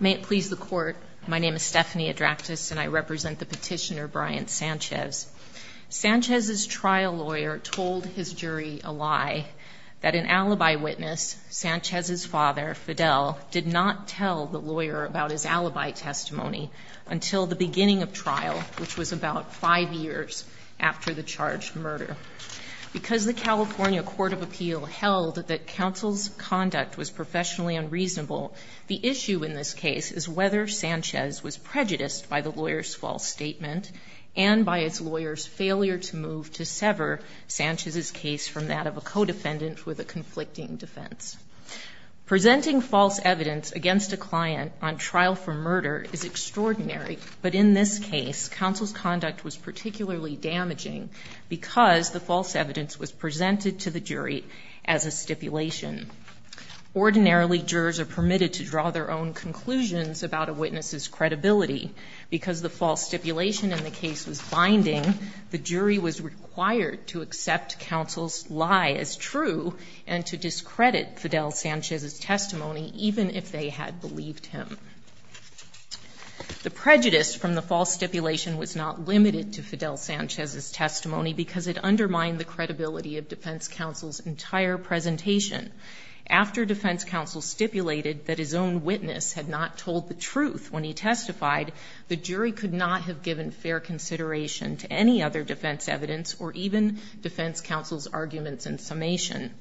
May it please the court, my name is Stephanie Adraktis and I represent the petitioner Brian Sanchez. Sanchez's trial lawyer told his jury a lie, that an alibi witness, Sanchez's father Fidel, did not tell the lawyer about his alibi testimony until the beginning of trial, which was about five years after the charged murder. Because the California Court of Appeal held that counsel's conduct was professionally unreasonable, the issue in this case is whether Sanchez was prejudiced by the lawyer's false statement, and by its lawyer's failure to move to sever Sanchez's case from that of a co-defendant with a conflicting defense. Presenting false evidence against a client on trial for murder is extraordinary, but in this case, counsel's conduct was particularly damaging because the false evidence was presented to the jury as a stipulation. Ordinarily, jurors are permitted to draw their own conclusions about a witness's credibility. Because the false stipulation in the case was binding, the jury was required to accept counsel's lie as true and to discredit Fidel Sanchez's testimony, even if they had believed him. The prejudice from the false stipulation was not limited to Fidel Sanchez's testimony because it undermined the credibility of defense counsel's entire presentation. After defense counsel stipulated that his own witness had not told the truth when he testified, the jury could not have given fair consideration to any other defense evidence or even defense counsel's arguments in summation.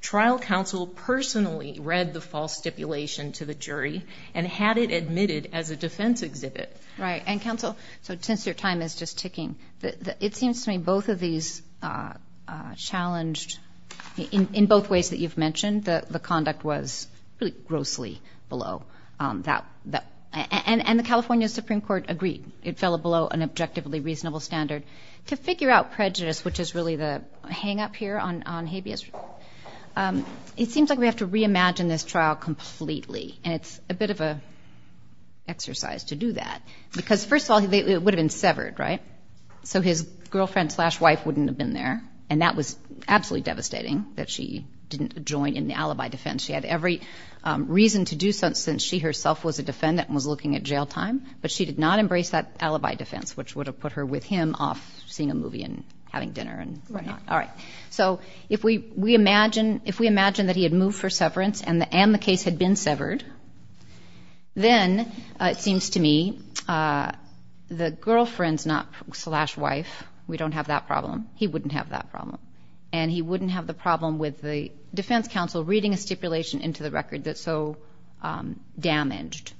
Trial counsel personally read the false stipulation to the jury and had it admitted as a defense exhibit. Right. And counsel, so since your time is just ticking, it seems to me both of these challenged, in both ways that you've mentioned, the conduct was really grossly below that. And the California Supreme Court agreed. It fell below an objectively reasonable standard. To figure out prejudice, which is really the hang-up here on habeas, it seems like we have to reimagine this trial completely. And it's a bit of an exercise to do that. Because first of all, it would have been if his wife wouldn't have been there. And that was absolutely devastating, that she didn't join in the alibi defense. She had every reason to do so since she herself was a defendant and was looking at jail time. But she did not embrace that alibi defense, which would have put her with him off seeing a movie and having dinner and whatnot. Right. All right. So if we imagine that he had moved for severance and the case had been severed, then it seems to me the girlfriend's slash wife, we don't have that problem. He wouldn't have that problem. And he wouldn't have the problem with the defense counsel reading a stipulation into the record that so damaged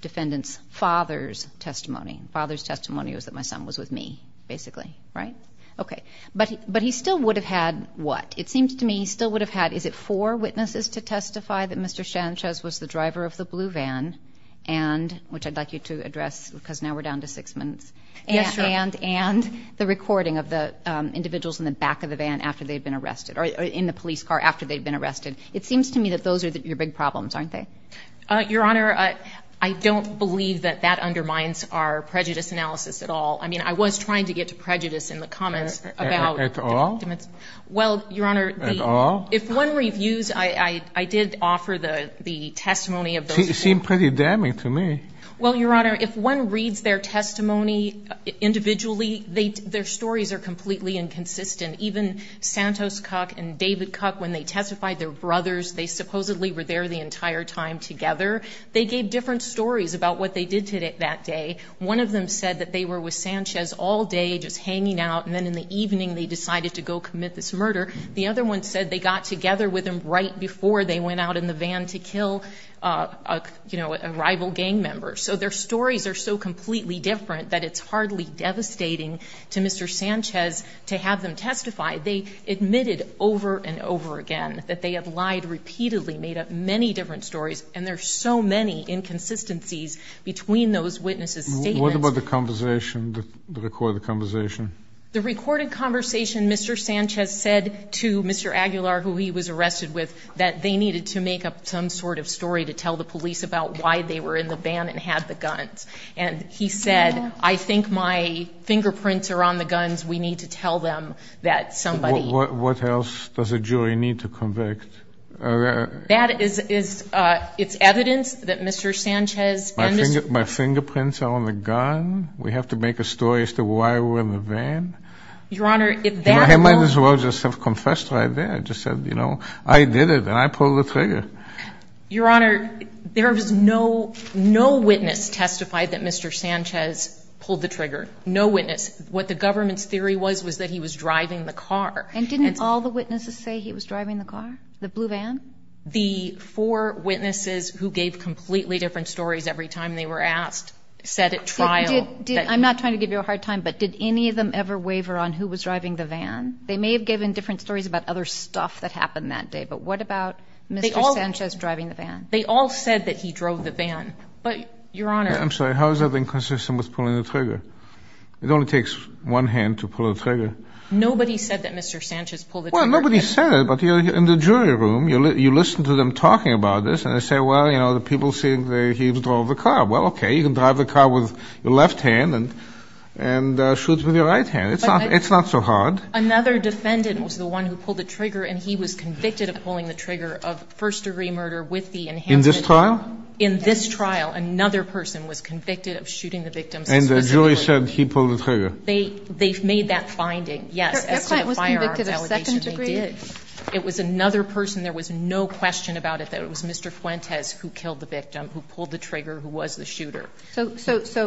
defendant's father's testimony. Father's testimony was that my son was with me, basically. Right? Okay. But he still would have had what? It seems to me he still would have had, is it four witnesses to testify that Mr. Sanchez was the driver of the blue van? And, which I'd like you to address because now we're down to six minutes. And the recording of the individuals in the back of the van after they'd been arrested, or in the police car after they'd been arrested. It seems to me that those are your big problems, aren't they? Your Honor, I don't believe that that undermines our prejudice analysis at all. I mean, I was trying to get to prejudice in the comments. At all? Well, Your Honor, if one reviews, I did offer the testimony of those. It seemed pretty damning to me. Well, Your Honor, if one reads their testimony individually, their stories are completely inconsistent. Even Santos Cook and David Cook, when they testified, they were brothers. They supposedly were there the entire time together. They gave different stories about what they did that day. One of them said that they were with Sanchez all day, just hanging out. And then in the evening, they decided to go commit this murder. The other one said they got together with him right before they went out in the van to kill a rival gang member. So their stories are so completely different that it's hardly devastating to Mr. Sanchez to have them testify. They admitted over and over again that they had lied repeatedly, made up many different stories, and there's so many inconsistencies between those witnesses' statements. What about the conversation, the recorded conversation? The recorded conversation Mr. Sanchez said to Mr. Aguilar, who he was arrested with, that they needed to make up some sort of story to tell the police about why they were in the van and had the guns. And he said, I think my fingerprints are on the guns. We need to tell them that somebody... What else does a jury need to convict? That is, it's evidence that Mr. Sanchez... My fingerprints are on the gun? We have to make a story as to why we were in the van? Your Honor, if that... I might as well just have confessed right there, just said, you know, I did it and I pulled the trigger. Your Honor, there was no, no witness testified that Mr. Sanchez pulled the trigger. No witness. What the government's theory was was that he was driving the car. And didn't all the witnesses say he was driving the car, the blue van? The four witnesses who gave completely different stories every time they were asked said at trial... I'm not trying to give you a hard time, but did any of them ever waver on who was driving the van? They may have given different stories about other stuff that happened that day, but what about Mr. Sanchez driving the van? They all said that he drove the van. But, Your Honor... I'm sorry, how is that inconsistent with pulling the trigger? It only takes one hand to pull the trigger. Nobody said that Mr. Sanchez pulled the trigger. Well, nobody said it, but in the jury room, you listen to them talking about this, and they say, well, you know, the people saying that he drove the car. Well, okay, you can drive the car with your left hand and shoot with your right hand. It's not so hard. Another defendant was the one who pulled the trigger, and he was convicted of pulling the trigger of first-degree murder with the enhanced... In this trial? In this trial, another person was convicted of shooting the victim. And the jury said he pulled the trigger. They've made that finding, yes, as to the firearm allegations. Their client was convicted of second-degree? It was another person. There was no question about it that it was Mr. Fuentes who killed the victim, who pulled the trigger, who was the shooter. So,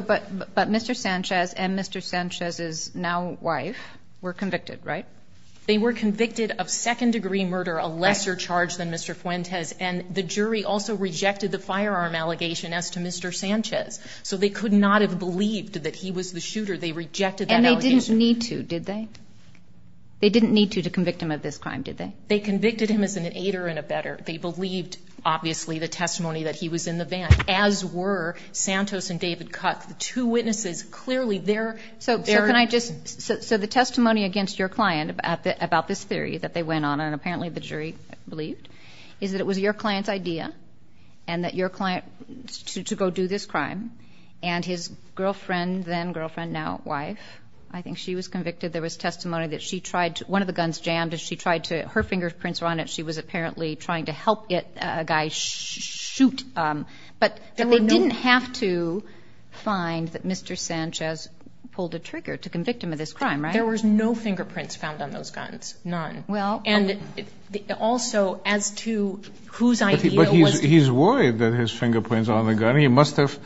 but Mr. Sanchez and Mr. Sanchez's now wife were convicted, right? They were convicted of second-degree murder, a lesser charge than Mr. Fuentes, and the jury also rejected the firearm allegation as to Mr. Sanchez. So they could not have believed that he was the shooter. They rejected that allegation. And they didn't need to, did they? They didn't need to to convict him of this crime, did they? They convicted him as an aider and a better. They believed, obviously, the testimony that he was in the van, as were Santos and David Cuck, the two witnesses. Clearly, they're... So, can I just... So the testimony against your client about this theory that they went on, and apparently the jury believed, is that it was your client's idea and that your client... To go do this crime, and his girlfriend, then girlfriend, now wife, I think she was convicted. There was testimony that she tried to... One of the guns jammed and she had fingerprints on it. She was apparently trying to help a guy shoot, but they didn't have to find that Mr. Sanchez pulled a trigger to convict him of this crime, right? There was no fingerprints found on those guns. None. Well... And also, as to whose idea was... But he's worried that his fingerprints are on the gun. He must have...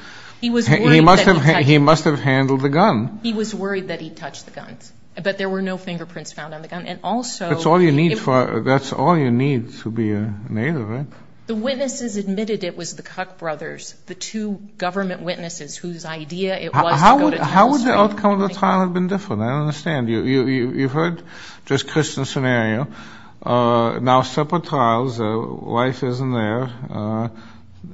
He was worried that he touched... He must have handled the gun. He was worried that he touched the guns, but there were no fingerprints found on the gun. And also... That's all you need for... That's all you need to be a native, right? The witnesses admitted it was the Kuck brothers, the two government witnesses whose idea it was to go to... How would the outcome of the trial have been different? I don't understand. You've heard this Christian scenario. Now, separate trials, the wife isn't there.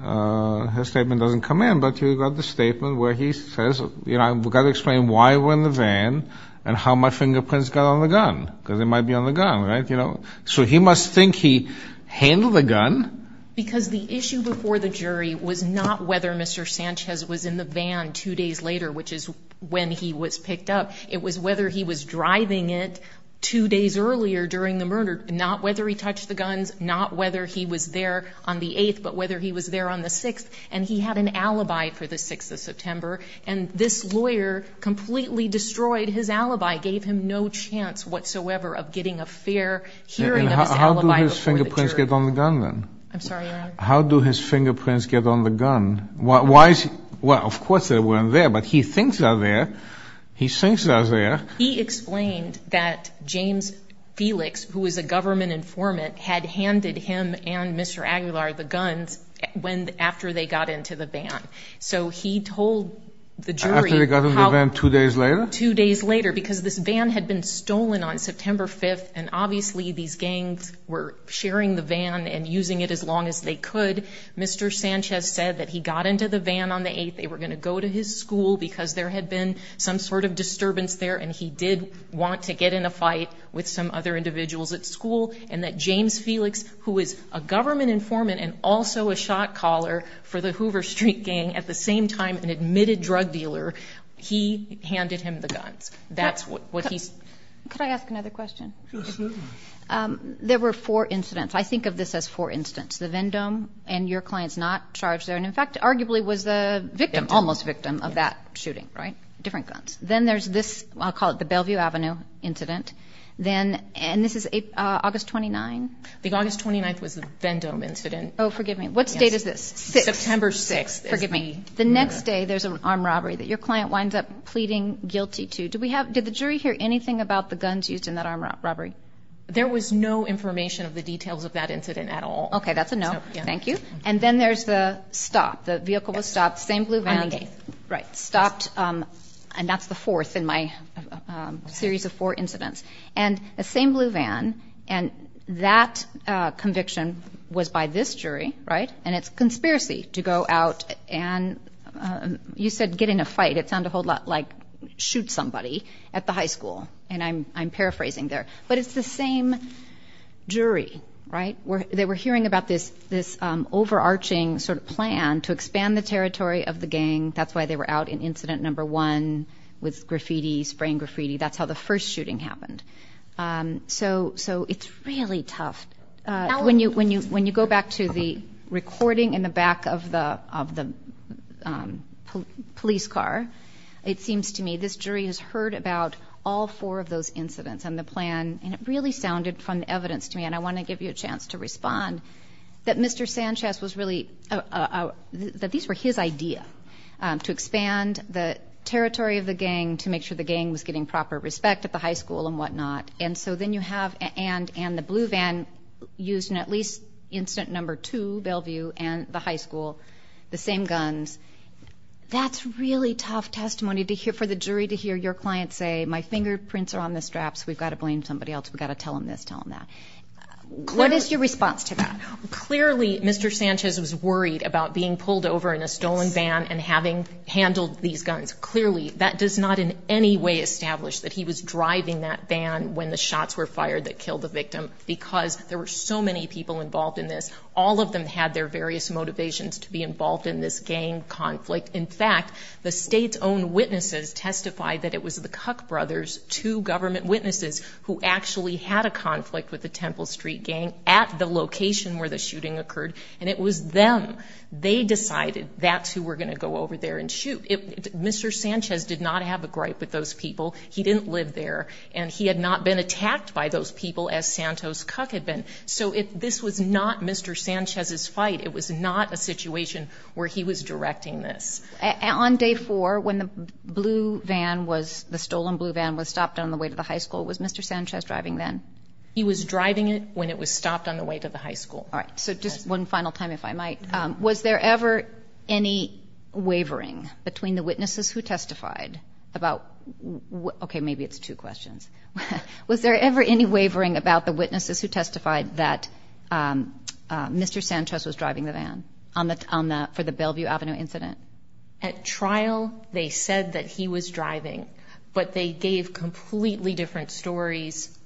Her statement doesn't come in, but you got the statement where he says, you know, I've got to explain why we're in the van and how my fingerprints got on the gun, because it might be on the gun, right? So he must think he handled the gun. Because the issue before the jury was not whether Mr. Sanchez was in the van two days later, which is when he was picked up. It was whether he was driving it two days earlier during the murder, not whether he touched the guns, not whether he was there on the 8th, but whether he was there on the 6th. And he had an alibi for the 6th of September. And this lawyer completely destroyed his alibi, gave him no chance whatsoever of getting a fair hearing of his alibi before the jury. How do his fingerprints get on the gun, then? I'm sorry, Your Honor? How do his fingerprints get on the gun? Well, of course they weren't there, but he thinks they're there. He thinks they're there. He explained that James Felix, who was a government informant, had handed him and Mr. Aguilar the guns after they got into the van. So he told the jury... After they got into the van two days later? Two days later, because this van had been stolen on September 5th, and obviously these gangs were sharing the van and using it as long as they could, Mr. Sanchez said that he got into the van on the 8th. They were going to go to his school because there had been some sort of disturbance there, and he did want to get in a fight with some other individuals at school. And that James Felix, who is a government informant and also a shot caller for the Hoover Street gang, at the same time an admitted drug dealer, he handed him the guns. That's what he... Could I ask another question? There were four incidents. I think of this as four incidents. The Vendome and your clients not charged there, and in fact, arguably was the victim, almost victim of that shooting, right? Different guns. Then there's this, I'll call it the Bellevue Avenue incident. And this is August 29th? I think August 29th was the Vendome incident. Oh, forgive me. What state is this? September 6th. The next day, there's an armed robbery that your client winds up pleading guilty to. Did the jury hear anything about the guns used in that armed robbery? There was no information of the details of that incident at all. Okay, that's a no. Thank you. And then there's the stop. The vehicle was stopped. Same blue van. Stopped, and that's the fourth in my series of four incidents. And the same blue van, and that conviction was by this jury, right? It's conspiracy to go out and, you said, get in a fight. It sounded a whole lot like shoot somebody at the high school, and I'm paraphrasing there. But it's the same jury, right? They were hearing about this overarching sort of plan to expand the territory of the gang. That's why they were out in incident number one with graffiti, spraying graffiti. That's how the first shooting happened. So it's really tough. Now, when you go back to the recording in the back of the police car, it seems to me this jury has heard about all four of those incidents and the plan, and it really sounded from the evidence to me, and I want to give you a chance to respond, that Mr. Sanchez was really, that these were his idea to expand the territory of the gang, to make sure the gang was getting proper respect at the high school and whatnot. And so then you have, and the blue van used in at least incident number two, Bellevue and the high school, the same guns. That's really tough testimony for the jury to hear your client say, my fingerprints are on the straps, we've got to blame somebody else. We've got to tell him this, tell him that. What is your response to that? Clearly, Mr. Sanchez was worried about being pulled over in a stolen van and having handled these guns. Clearly, that does not in any way establish that he was driving that van when the shots were fired that killed the victim, because there were so many people involved in this. All of them had their various motivations to be involved in this gang conflict. In fact, the state's own witnesses testified that it was the Cuck brothers, two government witnesses who actually had a conflict with the Temple Street gang at the location where the shooting occurred, and it was them, they decided that's who were going to go over there and shoot. Mr. Sanchez did not have a gripe with those people. He didn't live there, and he had not been attacked by those people as Santos Cuck had been. So this was not Mr. Sanchez's fight. It was not a situation where he was directing this. On day four, when the blue van was, the stolen blue van was stopped on the way to the high school, was Mr. Sanchez driving then? He was driving it when it was stopped on the way to the high school. All right, so just one final time, if I might. Was there ever any wavering between the witnesses who testified about, okay, maybe it's two questions. Was there ever any wavering about the witnesses who testified that Mr. Sanchez was driving the van for the Bellevue Avenue incident? At trial, they said that he was driving, but they gave completely different stories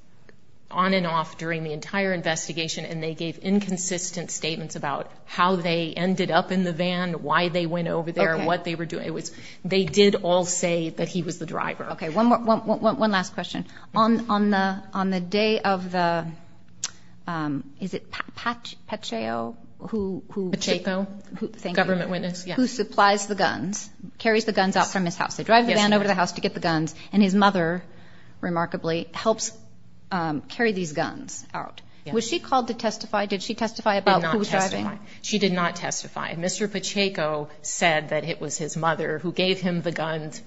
on and off during the entire investigation, and they gave inconsistent statements about how they ended up in the van, why they went over there, what they were doing. It was, they did all say that he was the driver. Okay, one last question. On the day of the, is it Pacheco? Pacheco, government witness, yeah. Who supplies the guns, carries the guns out from his house. They drive the van over to the house to get the guns, and his mother, remarkably, helps carry these guns out. Was she called to testify? Did she testify about who was driving? She did not testify. Mr. Pacheco said that it was his mother who gave him the guns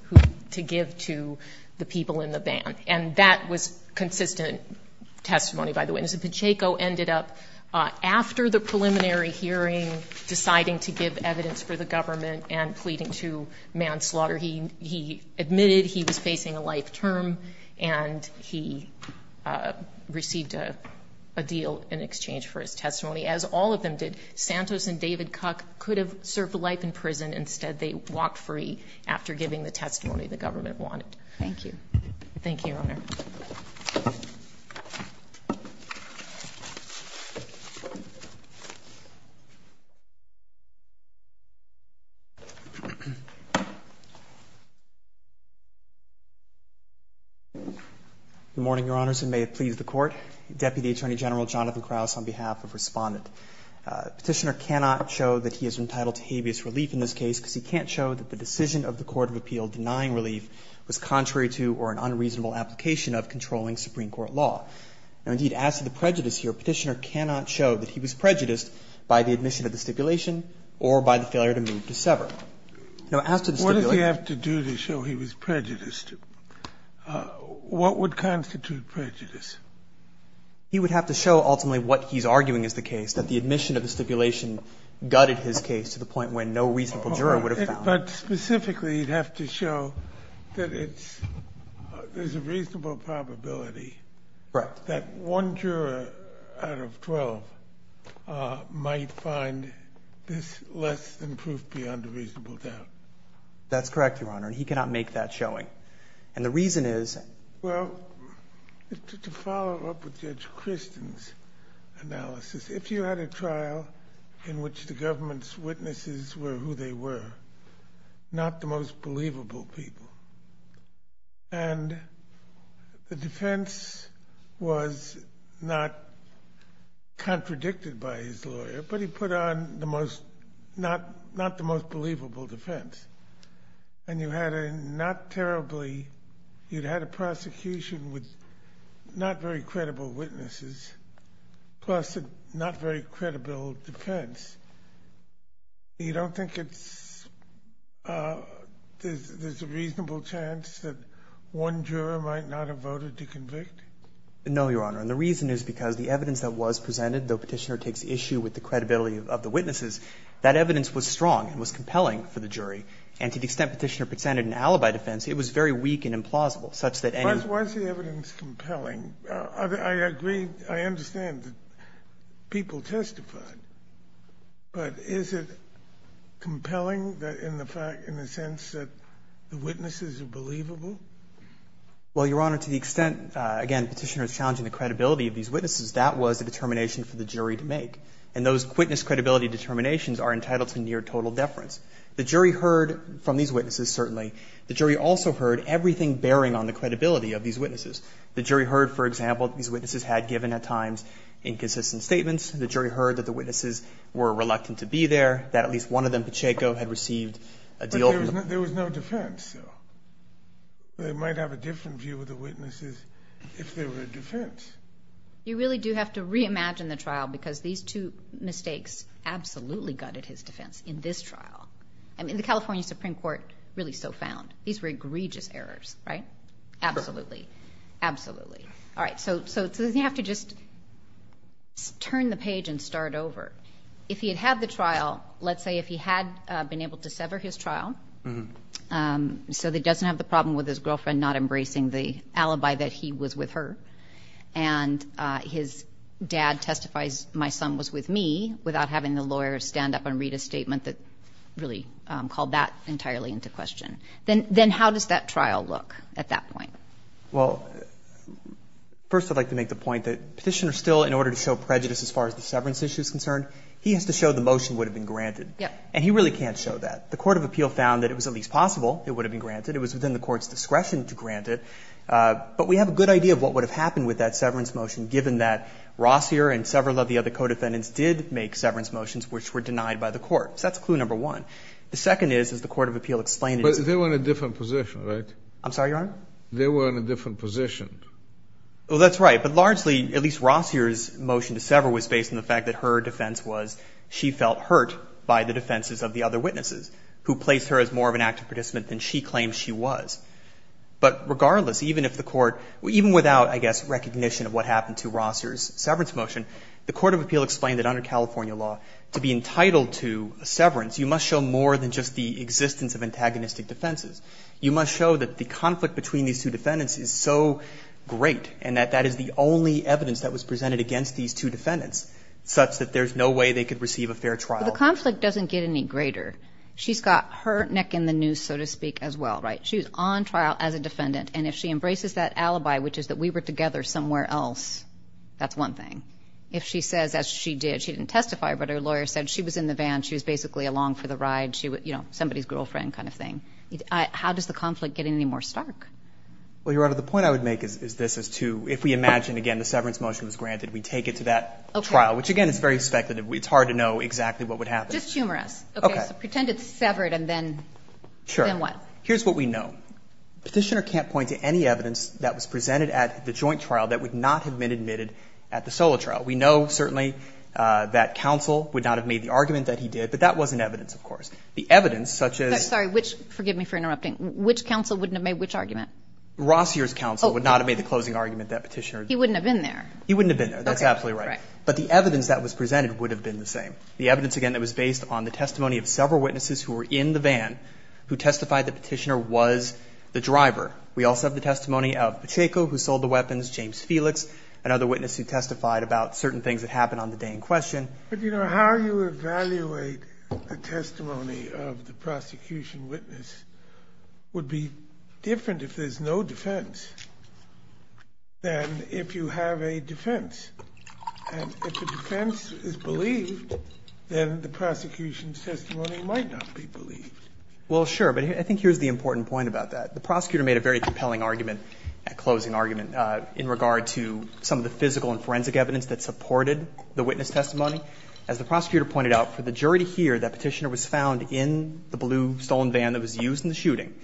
to give to the people in the van. And that was consistent testimony by the witness. Pacheco ended up, after the preliminary hearing, deciding to give evidence for the government and pleading to manslaughter. He admitted he was facing a life term, and he received a deal in exchange for his testimony, as all of them did. Santos and David Cuck could have served life in prison. Instead, they walked free after giving the testimony the government wanted. Thank you. Thank you, Your Honor. Good morning, Your Honors, and may it please the Court. Deputy Attorney General Jonathan Krauss on behalf of Respondent. Petitioner cannot show that he is entitled to habeas relief in this case because he can't show that the decision of the Court of Appeal denying relief was contrary to or an unreasonable application of controlling Supreme Court law. Now, indeed, as to the prejudice here, Petitioner cannot show that he was prejudiced by the admission of the stipulation or by the failure to move to sever. Now, as to the stipulation What does he have to do to show he was prejudiced? What would constitute prejudice? He would have to show ultimately what he's arguing is the case, that the admission of the stipulation gutted his case to the point where no reasonable juror would have found. But specifically, you'd have to show that there's a reasonable probability that one juror out of 12 might find this less than proof beyond a reasonable doubt. That's correct, Your Honor, and he cannot make that showing. And the reason is Well, to follow up with Judge Christen's analysis, if you had a trial in which the government's witnesses were who they were, not the most believable people, and the defense was not contradicted by his lawyer, but he put on not the most believable defense, and you had a not terribly, you'd had a prosecution with not very credible witnesses, plus a not very credible defense, you don't think it's, there's a reasonable chance that one juror might not have voted to convict? No, Your Honor, and the reason is because the evidence that was presented, though Petitioner takes issue with the credibility of the witnesses, that evidence was strong and was compelling for the jury. And to the extent Petitioner presented an alibi defense, it was very weak and implausible, such that any Was the evidence compelling? I agree, I understand that people testified, but is it compelling in the fact, in the sense that the witnesses are believable? Well, Your Honor, to the extent, again, Petitioner is challenging the credibility of these witnesses, that was a determination for the jury to make. And those witness credibility determinations are entitled to near total deference. The jury heard from these witnesses, certainly. The jury also heard everything bearing on the credibility of these witnesses. The jury heard, for example, these witnesses had given, at times, inconsistent statements. The jury heard that the witnesses were reluctant to be there, that at least one of them, Pacheco, had received a deal from them. There was no defense, though. They might have a different view of the witnesses if there were a defense. You really do have to reimagine the trial, because these two mistakes absolutely gutted his defense in this trial. I mean, the California Supreme Court really so found. These were egregious errors, right? Absolutely, absolutely. All right, so you have to just turn the page and start over. If he had had the trial, let's say if he had been able to sever his trial, so that he doesn't have the problem with his girlfriend not embracing the alibi that he was with her, and his dad testifies, my son was with me, without having the lawyer stand up and read a statement that really called that entirely into question, then how does that trial look at that point? Well, first, I'd like to make the point that Petitioner still, in order to show prejudice as far as the severance issue is concerned, he has to show the motion would have been granted. Yeah. And he really can't show that. The Court of Appeal found that it was at least possible it would have been granted. It was within the Court's discretion to grant it. But we have a good idea of what would have happened with that severance motion, given that Rossier and several of the other co-defendants did make severance motions, which were denied by the Court. So that's clue number one. The second is, as the Court of Appeal explained— But they were in a different position, right? I'm sorry, Your Honor? They were in a different position. Well, that's right. But largely, at least Rossier's motion to sever was based on the fact that her defense was she felt hurt by the defenses of the other witnesses, who placed her as more of an active participant than she claimed she was. But regardless, even if the Court— even without, I guess, recognition of what happened to Rossier's severance motion, the Court of Appeal explained that under California law, to be entitled to a severance, you must show more than just the existence of antagonistic defenses. You must show that the conflict between these two defendants is so great and that that is the only evidence that was presented against these two defendants, such that there's no way they could receive a fair trial. But the conflict doesn't get any greater. She's got her neck in the news, so to speak, as well, right? She was on trial as a defendant. And if she embraces that alibi, which is that we were together somewhere else, that's one thing. If she says, as she did— she didn't testify, but her lawyer said she was in the van. She was basically along for the ride. She was, you know, somebody's girlfriend kind of thing. How does the conflict get any more stark? Well, Your Honor, the point I would make is this, is to—if we imagine, again, the severance motion was granted, we take it to that trial, which, again, is very speculative. It's hard to know exactly what would happen. Just humor us. Okay. So pretend it's severed and then what? Here's what we know. Petitioner can't point to any evidence that was presented at the joint trial that would not have been admitted at the solo trial. We know, certainly, that counsel would not have made the argument that he did. But that wasn't evidence, of course. The evidence, such as— Sorry, which—forgive me for interrupting. Which counsel wouldn't have made which argument? Rossier's counsel would not have made the closing argument that Petitioner— He wouldn't have been there. He wouldn't have been there. That's absolutely right. But the evidence that was presented would have been the same. The evidence, again, that was based on the testimony of several witnesses who were in the van who testified that Petitioner was the driver. We also have the testimony of Pacheco, who sold the weapons, James Felix, another witness who testified about certain things that happened on the day in question. But, you know, how you evaluate the testimony of the prosecution witness would be different if there's no defense than if you have a defense. And if the defense is believed, then the prosecution's testimony might not be believed. Well, sure. But I think here's the important point about that. The prosecutor made a very compelling argument, closing argument, in regard to some of the physical and forensic evidence that supported the witness testimony. As the prosecutor pointed out, for the jury to hear that Petitioner was found in the blue stolen van that was used in the shooting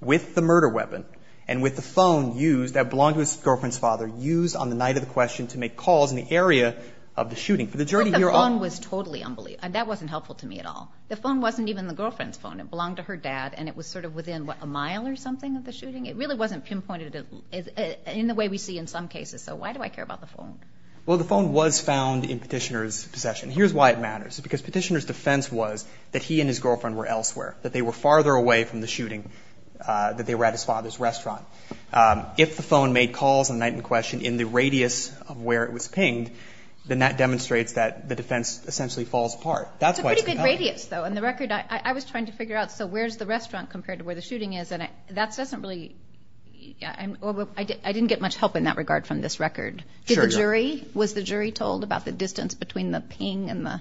with the murder weapon and with the phone used that belonged to his girlfriend's father, used on the night of the question to make calls in the area of the shooting. For the jury to hear all of that. But the phone was totally unbelievable. That wasn't helpful to me at all. The phone wasn't even the girlfriend's phone. It belonged to her dad, and it was sort of within, what, a mile or something of the shooting? It really wasn't pinpointed in the way we see in some cases. So why do I care about the phone? Well, the phone was found in Petitioner's possession. Here's why it matters. Because Petitioner's defense was that he and his girlfriend were elsewhere, that they were farther away from the shooting, that they were at his father's restaurant. If the phone made calls on the night in question in the radius of where it was pinged, then that demonstrates that the defense essentially falls apart. That's why it's compelling. It's a pretty good radius, though. In the record, I was trying to figure out, so where's the restaurant compared to where the shooting is? And that doesn't really, I didn't get much help in that regard from this record. Was the jury told about the distance between the ping and the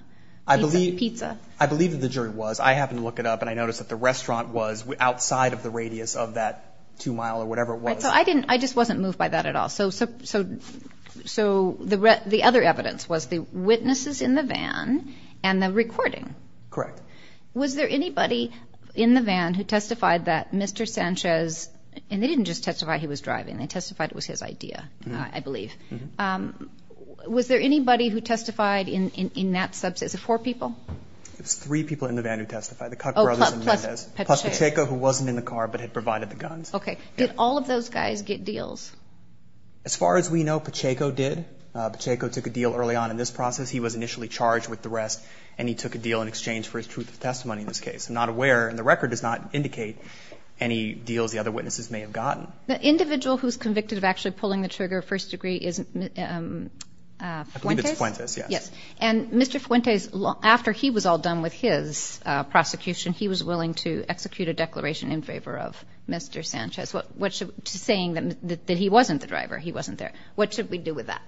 pizza? I believe that the jury was. I happened to look it up, and I noticed that the restaurant was outside of the I just wasn't moved by that at all. So the other evidence was the witnesses in the van and the recording. Correct. Was there anybody in the van who testified that Mr. Sanchez, and they didn't just testify he was driving. They testified it was his idea, I believe. Was there anybody who testified in that subset? Was it four people? It was three people in the van who testified. The Cut Brothers and Mendez. Plus Pacheco, who wasn't in the car but had provided the guns. Did all of those guys get deals? As far as we know, Pacheco did. Pacheco took a deal early on in this process. He was initially charged with the rest, and he took a deal in exchange for his truth of testimony in this case. I'm not aware, and the record does not indicate any deals the other witnesses may have gotten. The individual who's convicted of actually pulling the trigger, first degree, is Fuentes? Fuentes, yes. And Mr. Fuentes, after he was all done with his prosecution, he was willing to say that he wasn't the driver. He wasn't there. What should we do with that?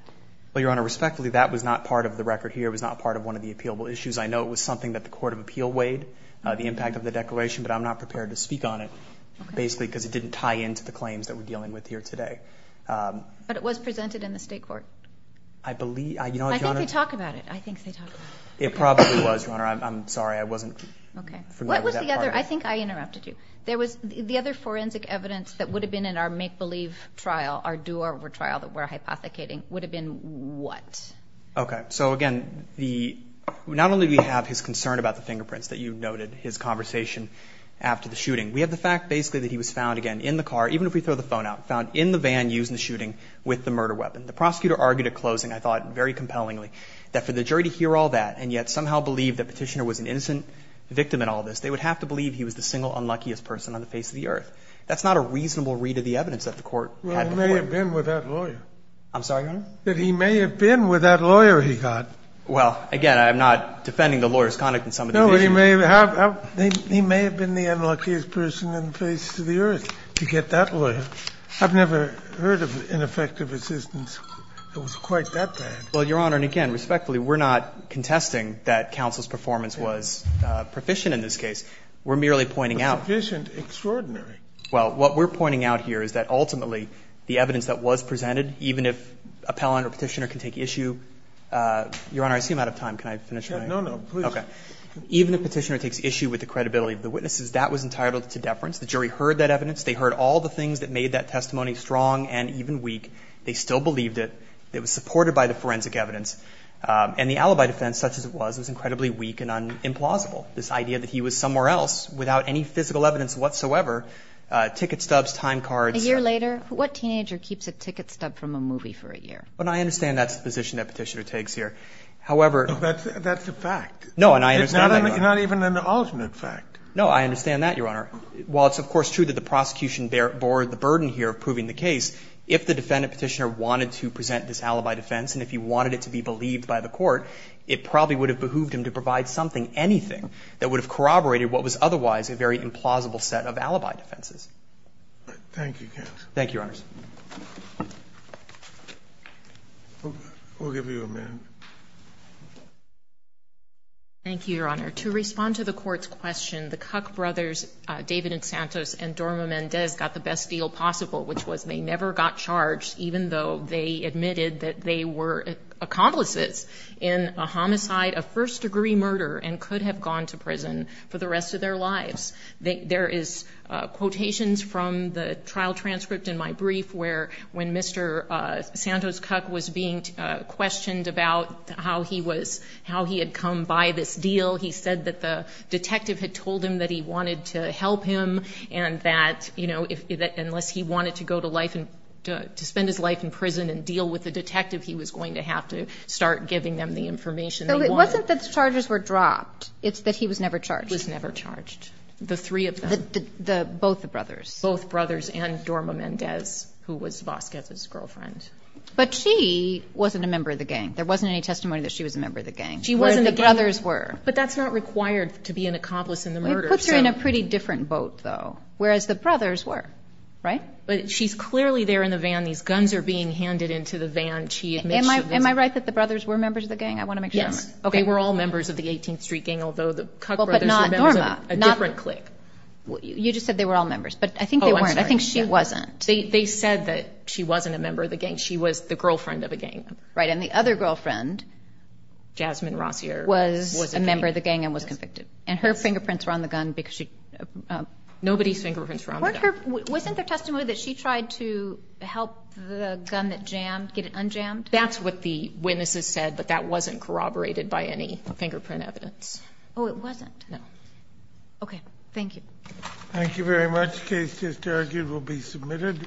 Well, Your Honor, respectfully, that was not part of the record here. It was not part of one of the appealable issues. I know it was something that the Court of Appeal weighed, the impact of the declaration. But I'm not prepared to speak on it, basically, because it didn't tie into the claims that we're dealing with here today. But it was presented in the state court. I believe, Your Honor. I think they talk about it. I think they talk about it. It probably was, Your Honor. I'm sorry. I wasn't familiar with that part. I think I interrupted you. The other forensic evidence that would have been in our make-believe trial, our do-over trial that we're hypothecating, would have been what? Okay. So, again, not only do we have his concern about the fingerprints that you noted, his conversation after the shooting, we have the fact, basically, that he was found, again, in the car, even if we throw the phone out, found in the van used in the shooting with the murder weapon. The prosecutor argued at closing, I thought very compellingly, that for the jury to hear all that and yet somehow believe that Petitioner was an innocent victim in all of that, that's not a reasonable read of the evidence that the court had before. Well, he may have been with that lawyer. I'm sorry, Your Honor? That he may have been with that lawyer he got. Well, again, I'm not defending the lawyer's conduct in some of these cases. No, but he may have been the unluckiest person in the face of the earth to get that lawyer. I've never heard of ineffective assistance that was quite that bad. Well, Your Honor, and again, respectfully, we're not contesting that counsel's performance was proficient in this case. We're merely pointing out. Proficient, extraordinary. Well, what we're pointing out here is that ultimately the evidence that was presented, even if appellant or Petitioner can take issue, Your Honor, I seem out of time. Can I finish my? No, no, please. Okay. Even if Petitioner takes issue with the credibility of the witnesses, that was entitled to deference. The jury heard that evidence. They heard all the things that made that testimony strong and even weak. They still believed it. It was supported by the forensic evidence. And the alibi defense, such as it was, was incredibly weak and implausible. This idea that he was somewhere else without any physical evidence whatsoever, ticket stubs, time cards. A year later? What teenager keeps a ticket stub from a movie for a year? Well, I understand that's the position that Petitioner takes here. However. That's a fact. No, and I understand that, Your Honor. Not even an alternate fact. No, I understand that, Your Honor. While it's, of course, true that the prosecution bore the burden here of proving the case, if the defendant, Petitioner, wanted to present this alibi defense, and if he wanted it to be believed by the court, it probably would have behooved him to provide something, anything, that would have corroborated what was otherwise a very implausible set of alibi defenses. Thank you, counsel. Thank you, Your Honors. We'll give you a minute. Thank you, Your Honor. To respond to the court's question, the Kuck brothers, David and Santos, and Dorma Mendez, got the best deal possible, which was they never got charged, even though they admitted that they were accomplices in a homicide, a first-degree murder, and could have gone to prison for the rest of their lives. There is quotations from the trial transcript in my brief where, when Mr. Santos Kuck was being questioned about how he was, how he had come by this deal, he said that the detective had told him that he wanted to help him, and that, you know, unless he wanted to go to life and to spend his life in prison and deal with the detective, he was going to have to start giving them the information they wanted. So it wasn't that the charges were dropped. It's that he was never charged. Was never charged. The three of them. Both the brothers. Both brothers and Dorma Mendez, who was Vasquez's girlfriend. But she wasn't a member of the gang. There wasn't any testimony that she was a member of the gang. She wasn't. The brothers were. But that's not required to be an accomplice in the murder. It puts her in a pretty different boat, though, whereas the brothers were, right? But she's clearly there in the van. These guns are being handed into the van. She admits. Am I right that the brothers were members of the gang? I want to make sure. Yes. Okay. They were all members of the 18th Street Gang, although the Kuck brothers were members of a different clique. You just said they were all members, but I think they weren't. I think she wasn't. They said that she wasn't a member of the gang. She was the girlfriend of a gang member. Right. And the other girlfriend. Jasmine Rossier. Was a member of the gang and was convicted. And her fingerprints were on the gun because she. Nobody's fingerprints were on the gun. Wasn't there testimony that she tried to help the gun that jammed get it unjammed? That's what the witnesses said, but that wasn't corroborated by any fingerprint evidence. Oh, it wasn't? No. Okay. Thank you. Thank you very much. Case just argued will be submitted.